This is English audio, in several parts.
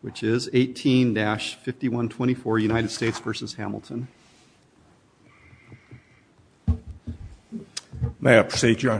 which is 18-5124 United States v. Hamilton. May I proceed your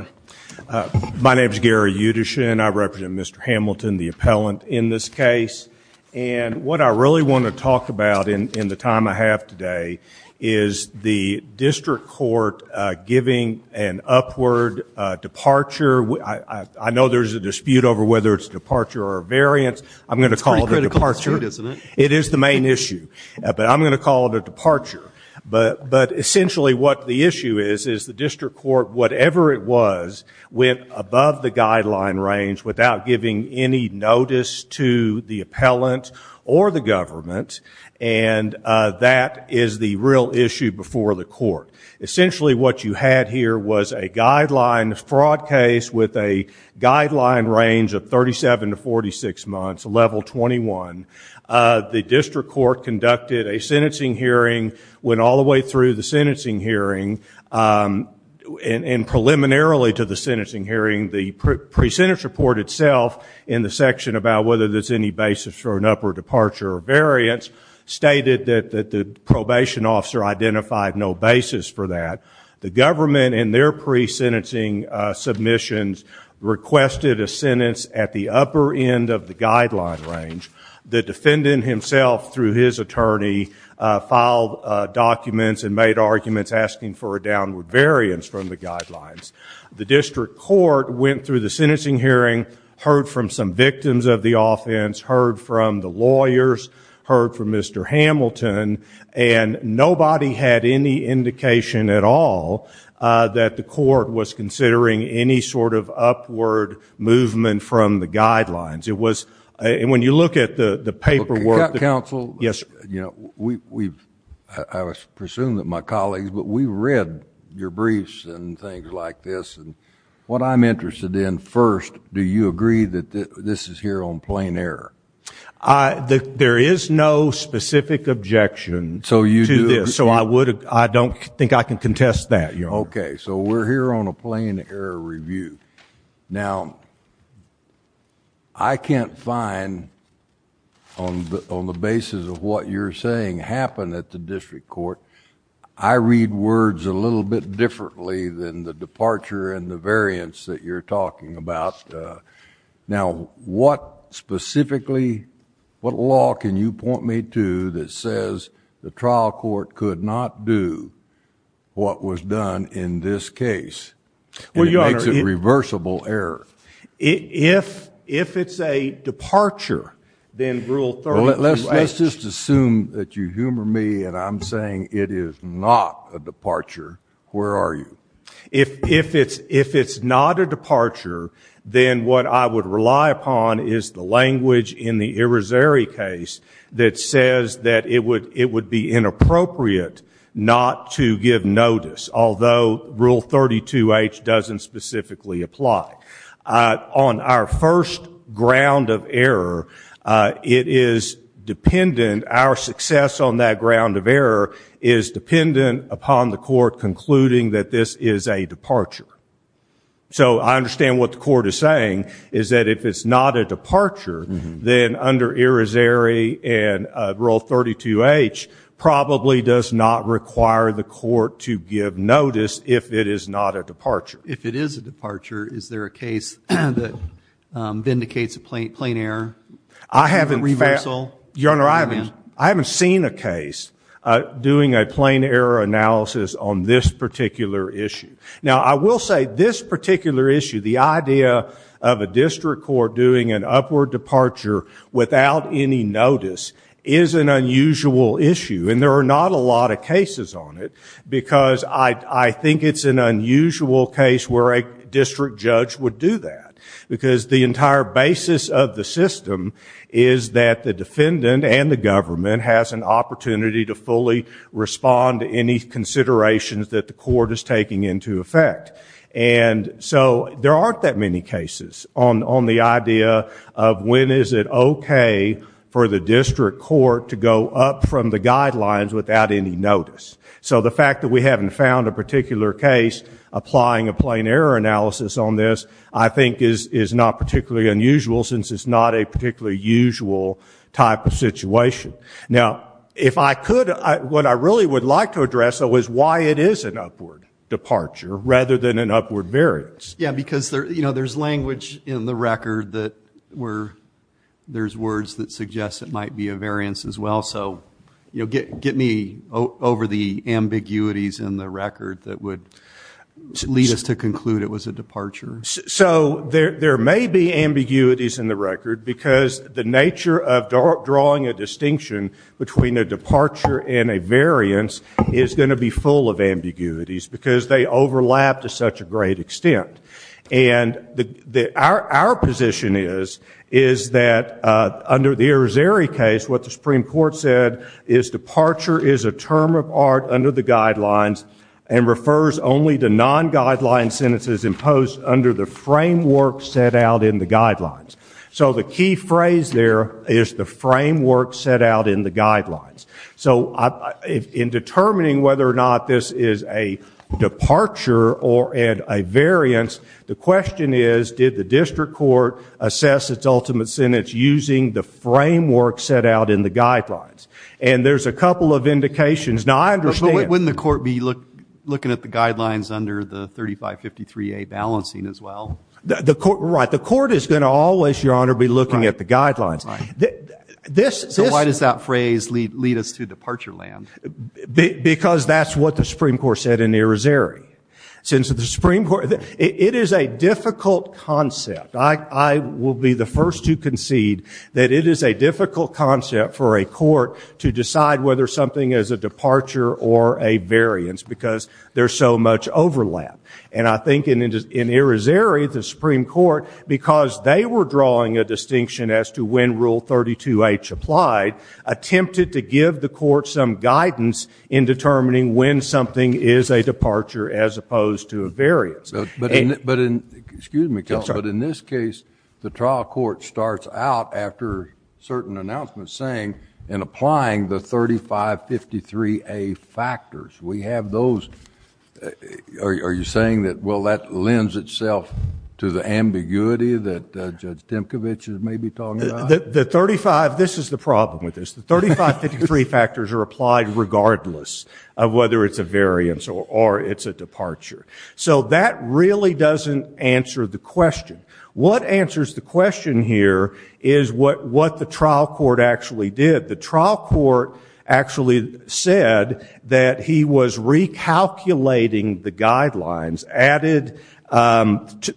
honor? My name is Gary Udish and I represent Mr. Hamilton the appellant in this case and what I really want to talk about in the time I have today is the district court giving an upward departure. I know there's a dispute over whether it's departure or variance. I'm gonna call it a departure. It is the main issue but I'm gonna call it a departure. But essentially what the issue is is the district court whatever it was went above the guideline range without giving any notice to the appellant or the government and that is the real issue before the court. Essentially what you had here was a guideline fraud case with a guideline range of 37 to 46 months, level 21. The district court conducted a sentencing hearing, went all the way through the sentencing hearing and preliminarily to the sentencing hearing the pre-sentence report itself in the section about whether there's any basis for an upward departure or variance stated that the probation officer identified no basis for that. The government in their pre-sentencing submissions requested a sentence at the upper end of the guideline range. The defendant himself through his attorney filed documents and made arguments asking for a downward variance from the guidelines. The district court went through the sentencing hearing, heard from some victims of the offense, heard from the lawyers, heard from Mr. Hamilton and nobody had any doubt that the district court was considering any sort of upward movement from the guidelines. It was and when you look at the the paperwork the council yes you know we've I was presumed that my colleagues but we read your briefs and things like this and what I'm interested in first do you agree that this is here on plain error? There is no specific objection so you do this so I would I don't think I can contest that you know. Okay so we're here on a plain error review now I can't find on the basis of what you're saying happen at the district court I read words a little bit differently than the departure and the variance that you're talking about now what specifically what law can you point me to that says the trial court could not do what was done in this case? Well your Honor. It makes it reversible error. If if it's a departure then rule 32H. Let's just assume that you humor me and I'm saying it is not a departure where are you? If if it's if it's not a departure then what I would rely upon is the language in the Irizarry case that says that it would it would be inappropriate not to give notice although rule 32H doesn't specifically apply on our first ground of error it is dependent our success on that ground of error is dependent upon the court concluding that this is a departure so I it's not a departure then under Irizarry and rule 32H probably does not require the court to give notice if it is not a departure. If it is a departure is there a case that vindicates a plain error? I haven't. A reversal? Your Honor I haven't seen a case doing a plain error analysis on this particular issue. Now I will say this particular issue the idea of a district court doing an upward departure without any notice is an unusual issue and there are not a lot of cases on it because I I think it's an unusual case where a district judge would do that because the entire basis of the system is that the defendant and the government has an opportunity to fully respond to any considerations that the court is taking into effect and so there aren't that many cases on on the idea of when is it okay for the district court to go up from the guidelines without any notice so the fact that we haven't found a particular case applying a plain error analysis on this I think is is not particularly unusual since it's not a particularly usual type of situation. Now if I could what I really would like to address though is why it is an upward departure rather than an upward variance. Yeah because there you know there's language in the record that were there's words that suggest it might be a variance as well so you'll get get me over the ambiguities in the record that would lead us to conclude it was a departure. So there there may be ambiguities in the record because the nature of drawing a distinction between a departure and a variance is going to be full of ambiguities because they overlap to such a great extent and the our position is is that under the Arizeri case what the Supreme Court said is departure is a term of art under the guidelines and refers only to non-guideline sentences imposed under the framework set out in the guidelines. So the key phrase there is the framework set out in the guidelines. So in determining whether or not this is a departure or and a variance the question is did the district court assess its ultimate sentence using the framework set out in the guidelines and there's a couple of indications now I understand. But wouldn't the court be look looking at the guidelines under the 3553a balancing as well? The court right the court is going to always your honor be looking at the guidelines. So why does that phrase lead lead us to departure land? Because that's what the Supreme Court said in Arizeri. Since the Supreme Court it is a difficult concept I will be the first to concede that it is a difficult concept for a court to decide whether something is a departure or a variance because there's so much overlap and I think in Arizeri the Supreme Court because they were drawing a distinction as to when rule 32 H applied attempted to give the court some guidance in determining when something is a departure as opposed to a variance. But in this case the trial court starts out after certain announcements saying and applying the 3553a factors we have those are you saying that well that lends itself to the ambiguity that judge Timkovich is maybe talking about? The 35 this is the problem with this the 3553 factors are applied regardless of whether it's a variance or it's a departure. So that really doesn't answer the question. What answers the question here is what what the trial court actually did. The trial court actually said that he was recalculating the guidelines added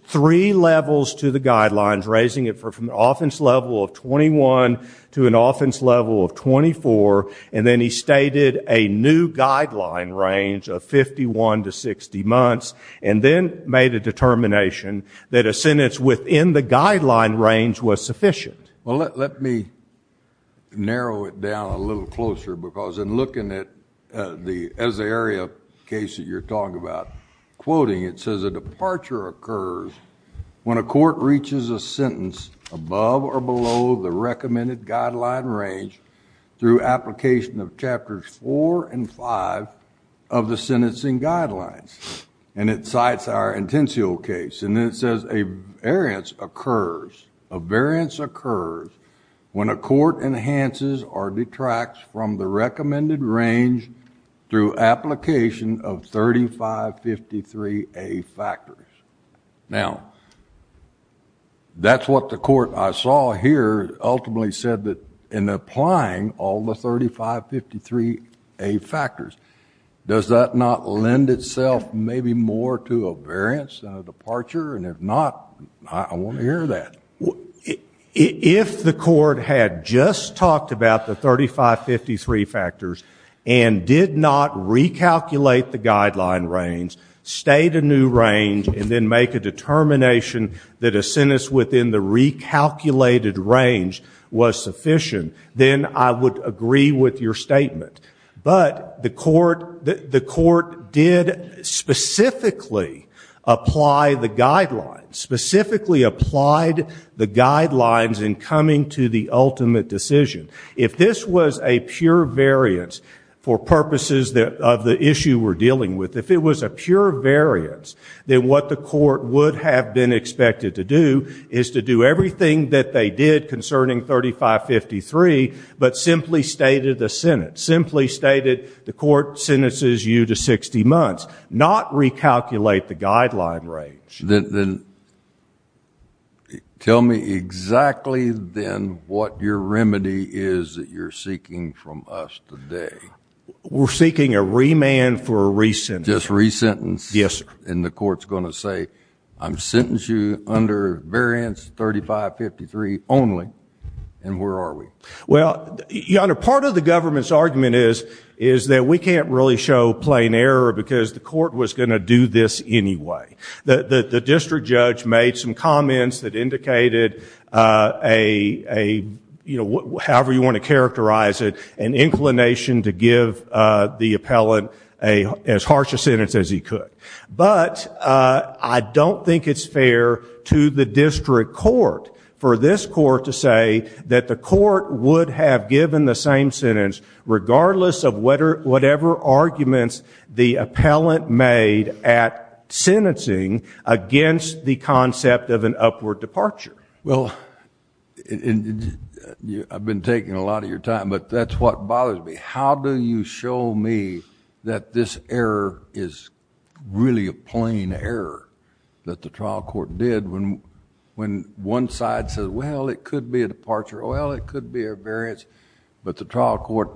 three levels to the guidelines raising it from the offense level of 21 to an offense level of 24 and then he stated a new guideline range of 51 to 60 months and then made a determination that a sentence within the guideline range was closer because in looking at the as the area case that you're talking about quoting it says a departure occurs when a court reaches a sentence above or below the recommended guideline range through application of chapters four and five of the sentencing guidelines and it cites our intensio case and then it says a variance occurs a variance occurs when a court enhances or detracts from the recommended range through application of 3553 a factors. Now that's what the court I saw here ultimately said that in applying all the 3553 a factors does that not lend itself maybe more to a variance a departure and if not I want to hear that. If the court had just talked about the 3553 factors and did not recalculate the guideline range state a new range and then make a determination that a sentence within the recalculated range was sufficient then I would agree with your statement but the court the court did specifically apply the guidelines specifically applied the guidelines in coming to the ultimate decision if this was a pure variance for purposes that of the issue we're dealing with if it was a pure variance then what the court would have been expected to do is to do everything that they did concerning 3553 but simply stated the Senate simply stated the court sentences you to 60 months not recalculate the guideline range. Then tell me exactly then what your remedy is that you're seeking from us today. We're seeking a remand for a recent just resentence yes and the court's going to say I'm sentencing you under variance 3553 only and where are we? Well your honor part of the government's argument is is that we can't really show plain error because the court was going to do this anyway. The district judge made some comments that indicated a you know however you want to characterize it an inclination to give the appellant a as harsh a sentence as he could but I don't think it's fair to the district court for this court to say that the court would have given the same sentence regardless of whether whatever arguments the appellant made at sentencing against the concept of an upward departure. Well I've been taking a lot of your time but that's what bothers me. How do you show me that this error is really a plain error that the trial court did when when one side says well it could be a departure well it could be a variance but the trial court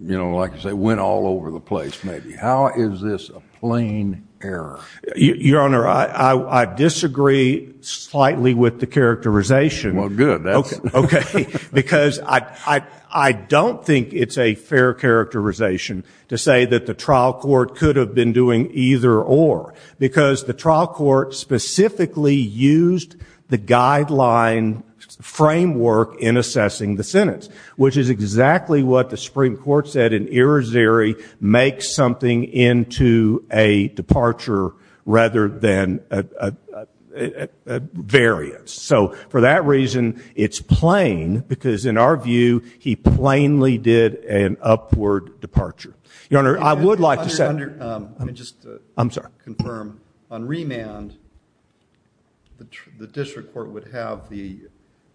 you know like I say went all over the place maybe. How is this a plain error? Your honor I disagree slightly with the characterization. Well good. Okay because I I don't think it's a fair characterization to say that the trial court could have been doing either or because the trial court specifically used the guideline framework in assessing the sentence which is exactly what the Supreme Court said in Erasery make something into a departure rather than a variance. So for that reason it's plain because in our view he plainly did an upward departure. Your honor I would like to say. I'm sorry. On remand the district court would have the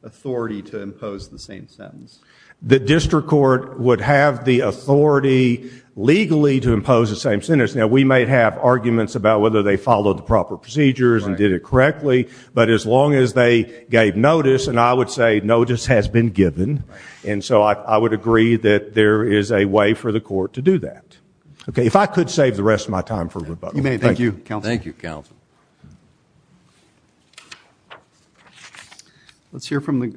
authority to impose the same sentence. The district court would have the authority legally to impose the same sentence. Now we might have arguments about whether they followed the proper procedures and did it correctly but as long as they gave notice and I would say notice has been given and so I would agree that there is a way for the court to do that. Okay if I could save the rest of my time for rebuttal. You may. Thank you counsel. Thank you counsel. Let's hear from the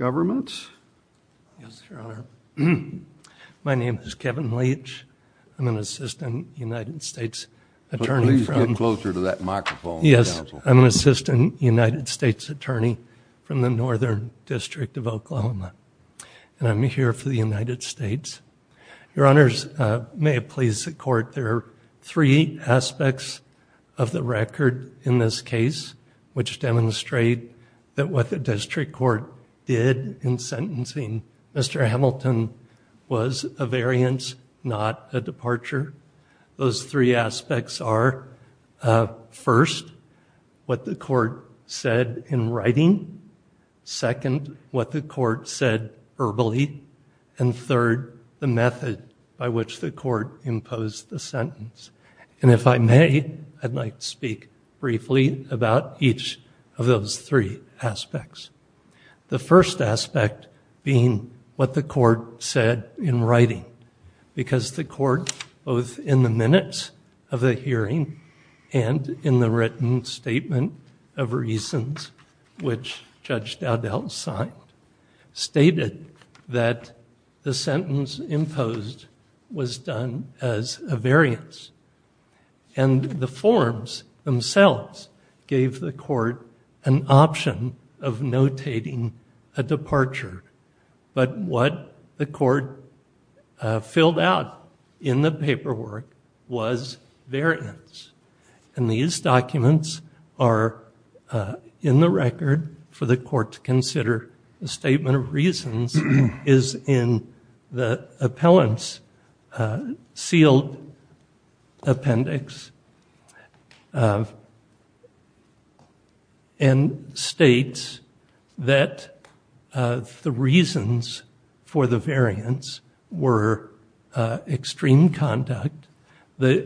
assistant United States attorney. Please get closer to that microphone. Yes I'm an assistant United States attorney from the Northern District of Oklahoma and I'm here for the United States. Your honors may it please the court there are three aspects of the record in this case which demonstrate that what the district court did in sentencing Mr. Hamilton was a variance not a departure. Those three aspects are first what the court said in writing, second what the court said verbally, and third the method by which the court imposed the sentence. And if I I'd like to speak briefly about each of those three aspects. The first aspect being what the court said in writing because the court both in the minutes of the hearing and in the written statement of reasons which Judge Dowdell signed stated that the sentence imposed was done as a variance. And the forms themselves gave the court an option of notating a departure. But what the court filled out in the paperwork was variance. And these documents are in the record for the court to consider. The statement of reasons is in the appellant's sealed appendix and states that the reasons for the variance were extreme conduct, the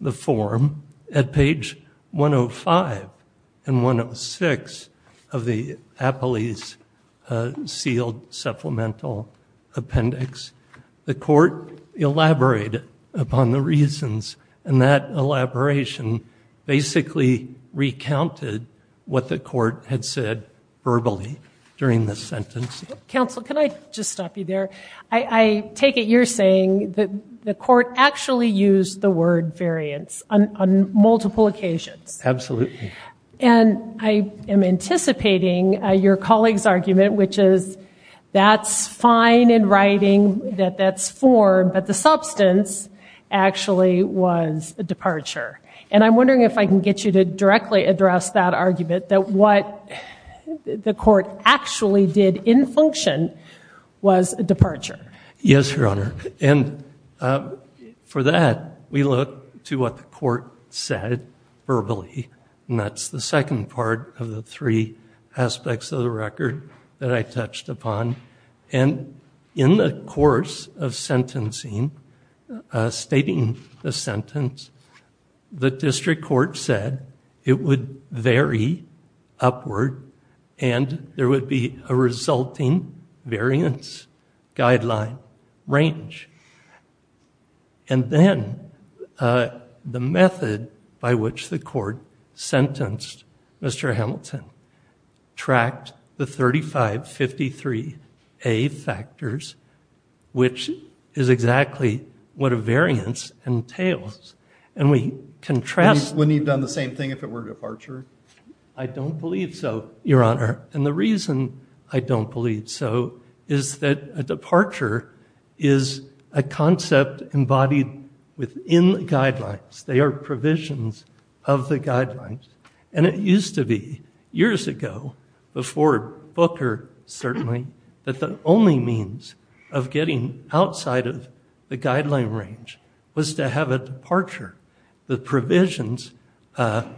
the form at page 105 and 106 of the appellee's sealed supplemental appendix. The court elaborated upon the reasons and that elaboration basically recounted what the court had said verbally during the sentence. Counsel can I just stop you there. I take it you're saying that the court actually used the word variance on multiple occasions. Absolutely. And I am anticipating your colleague's argument which is that's fine in writing, that that's form, but the substance actually was a departure. And I'm wondering if I can get you to directly address that departure. Yes, Your Honor. And for that we look to what the court said verbally and that's the second part of the three aspects of the record that I touched upon. And in the course of sentencing, stating the sentence, the district court said it would vary upward and there would be a resulting variance guideline range. And then the method by which the court sentenced Mr. Hamilton tracked the same thing if it were departure? I don't believe so, Your Honor. And the reason I don't believe so is that a departure is a concept embodied within guidelines. They are provisions of the guidelines. And it used to be years ago before Booker certainly, that the only means of getting outside of the guideline range was to have a departure. The provisions that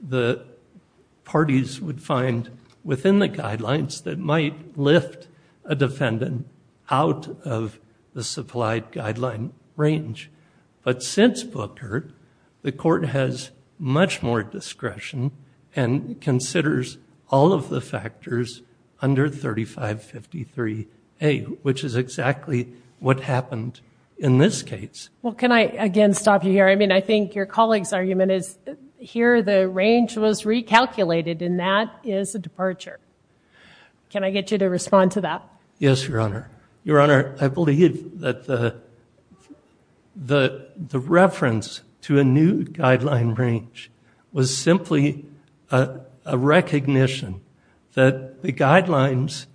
the parties would find within the guidelines that might lift a defendant out of the supplied guideline range. But since Booker, the court has much more discretion and considers all of the happened in this case. Well, can I again stop you here? I mean, I think your colleague's argument is here the range was recalculated and that is a departure. Can I get you to respond to that? Yes, Your Honor. Your Honor, I believe that the reference to a new guideline range was simply a recognition that the guidelines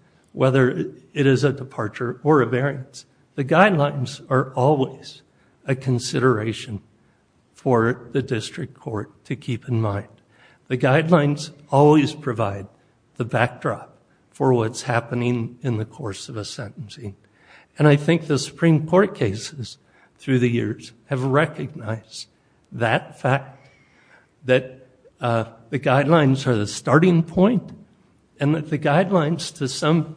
are always a consideration for the district court to keep in mind. The guidelines always provide the backdrop for what's happening in the course of a sentencing. And I think the Supreme Court cases through the years have recognized that fact that the guidelines are the starting point and that the guidelines to some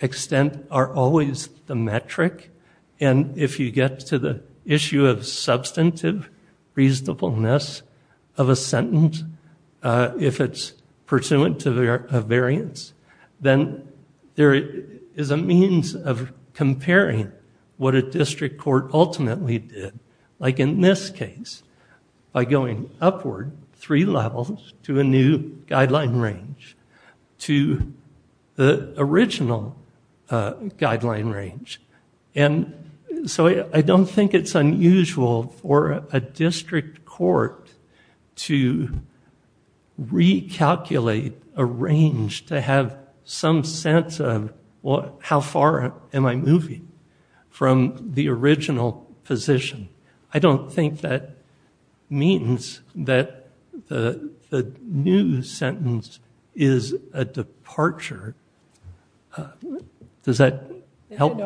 extent are always the metric. And if you get to the issue of substantive reasonableness of a sentence, if it's pursuant to their variance, then there is a means of comparing what a district court ultimately did. Like in this case, by going upward three levels to a new to the original guideline range. And so I don't think it's unusual for a district court to recalculate a range to have some sense of what how far am I moving from the original position. I don't think that means that the new sentence is a departure. Does that help?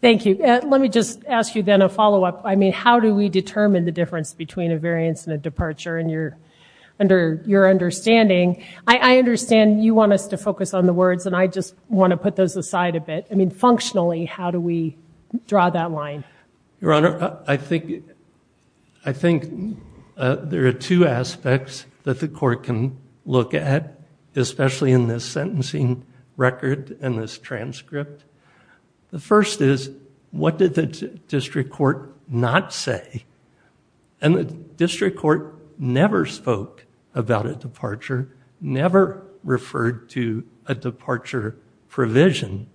Thank you. Let me just ask you then a follow-up. I mean, how do we determine the difference between a variance and a departure in your under your understanding? I understand you want us to focus on the words and I just want to put those aside a bit. I mean, functionally, how do we draw that line? Your Honor, I think there are two aspects that the especially in this sentencing record and this transcript. The first is, what did the district court not say? And the district court never spoke about a departure, never referred to a departure provision.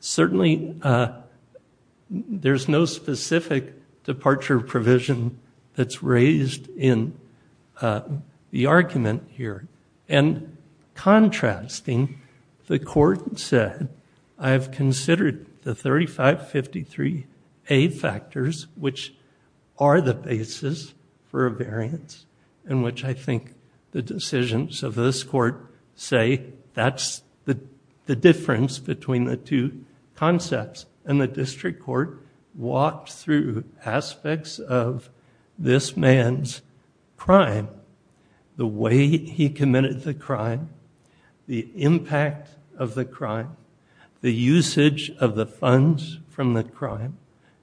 Certainly there's no specific departure provision that's raised in the argument here. And contrasting, the court said, I have considered the 3553A factors, which are the basis for a variance, in which I think the decisions of this court say that's the aspects of this man's crime, the way he committed the crime, the impact of the crime, the usage of the funds from the crime,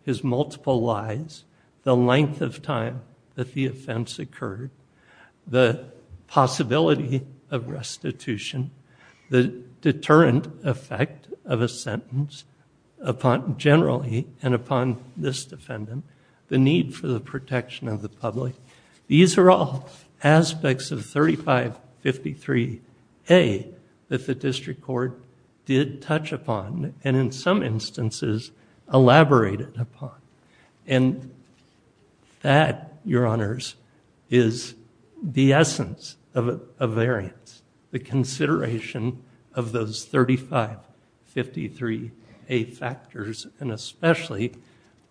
his multiple lies, the length of time that the offense occurred, the possibility of restitution, the deterrent effect of a sentence upon generally and upon this defendant, the need for the protection of the public. These are all aspects of 3553A that the district court did touch upon and in some instances elaborated upon. And that, Your variance, the consideration of those 3553A factors, and especially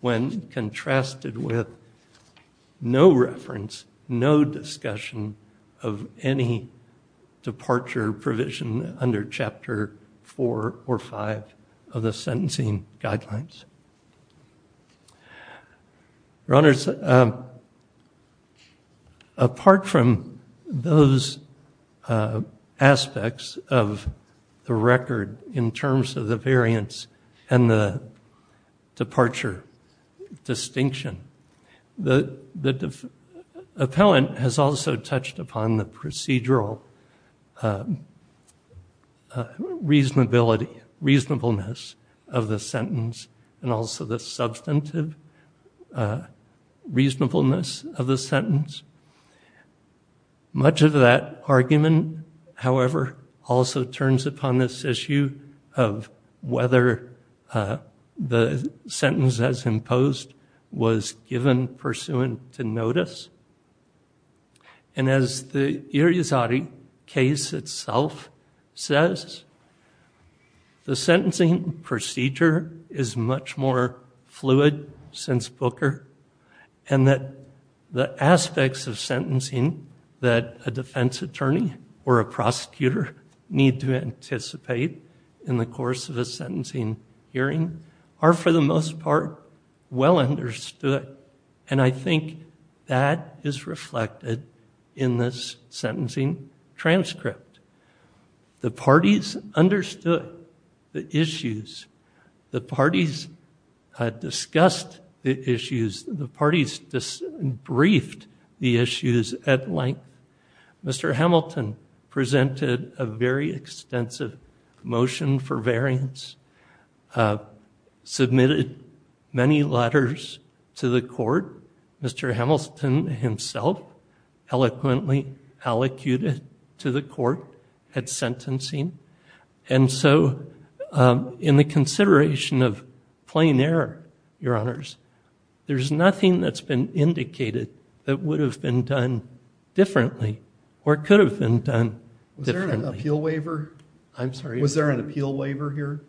when contrasted with no reference, no discussion of any departure provision under Chapter 4 or 5 of the sentencing guidelines. Your Honors, apart from those aspects of the record in terms of the variance and the departure distinction, the appellant has also touched upon the procedural reasonability, reasonableness of the sentence, and also the substantive reasonableness of the sentence. Simon, however, also turns upon this issue of whether the sentence as imposed was given pursuant to notice. And as the Irizarry case itself says, the sentencing procedure is much more fluid since Booker, and that the aspects of what a plaintiff or a prosecutor need to anticipate in the course of a sentencing hearing are for the most part well understood. And I think that is reflected in this sentencing transcript. The parties understood the issues. The parties discussed the issues. The parties briefed the issues at length. Mr. Hamilton presented a very extensive motion for variance, submitted many letters to the court. Mr. Hamilton himself eloquently allocated to the court at sentencing. And so in the consideration of plain error, Your Honors, there's nothing that's been indicated that would have been done differently or could have been done differently. Was there an appeal waiver? I'm sorry? Was there an appeal waiver here?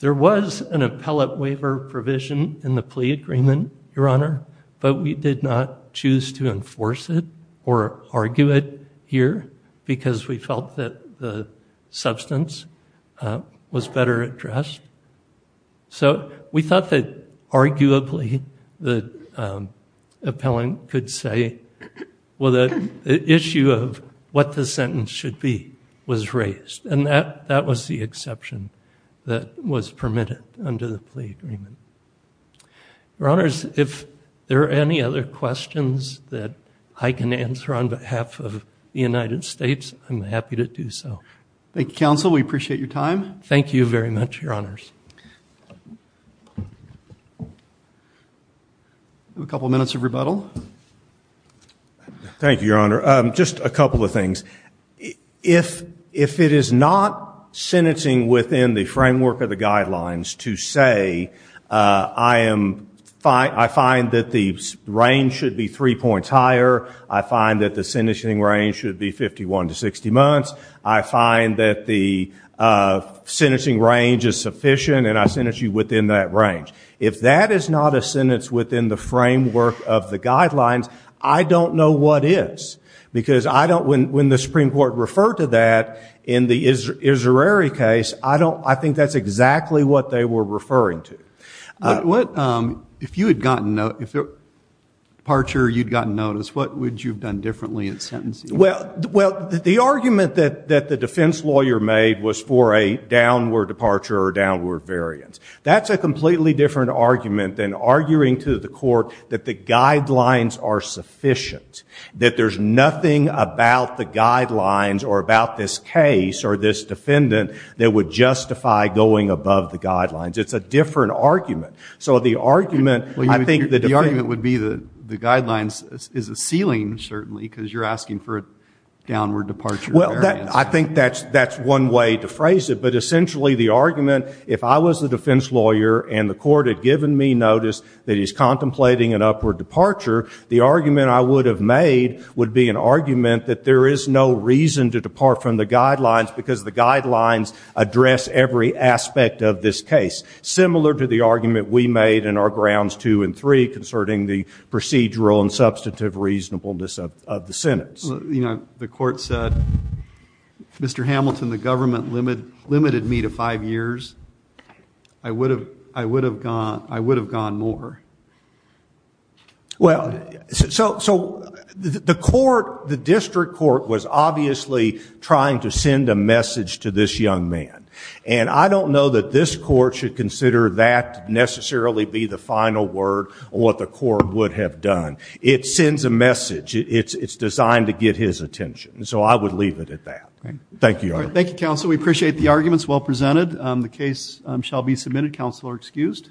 There was an appellate waiver provision in the plea agreement, Your Honor, but we did not think that was better addressed. So we thought that arguably the appellant could say, well, the issue of what the sentence should be was raised. And that was the exception that was permitted under the plea agreement. Your Honors, if there are any other questions that I can answer on behalf of the United States, I'm happy to do so. Thank you, Counsel. We appreciate your time. Thank you very much, Your Honors. A couple minutes of rebuttal. Thank you, Your Honor. Just a couple of things. If it is not sentencing within the framework of the guidelines to say, I find that the range should be three months, I find that the sentencing range is sufficient, and I sentence you within that range. If that is not a sentence within the framework of the guidelines, I don't know what is. Because when the Supreme Court referred to that in the Israeri case, I think that's exactly what they were referring to. If at departure you'd gotten notice, what would you have done differently in sentencing? Well, the argument that the defense lawyer made was for a downward departure or a downward variance. That's a completely different argument than arguing to the court that the guidelines are sufficient, that there's nothing about the guidelines or about this case or this defendant that would justify going above the guidelines. It's a different argument. So the argument, I think the argument would be that the guidelines is a ceiling, certainly, because you're asking for a downward departure or variance. Well, I think that's one way to phrase it. But essentially the argument, if I was a defense lawyer and the court had given me notice that he's contemplating an upward departure, the argument I would have made would be an argument that there is no reason to depart from the guidelines because the guidelines address every aspect of this case, similar to the argument we made in our grounds two and three concerning the procedural and substantive reasonableness of the sentence. The court said, Mr. Hamilton, the government limited me to five years. I would have gone more. Well, so the court, the district court, was obviously trying to send a message to this young man. And I don't know that this court should consider that necessarily be the final word on what the court would have done. It sends a message. It's designed to get his attention. So I would leave it at that. Thank you. Thank you, counsel. We appreciate the arguments well presented. The case shall be submitted. Counsel are excused.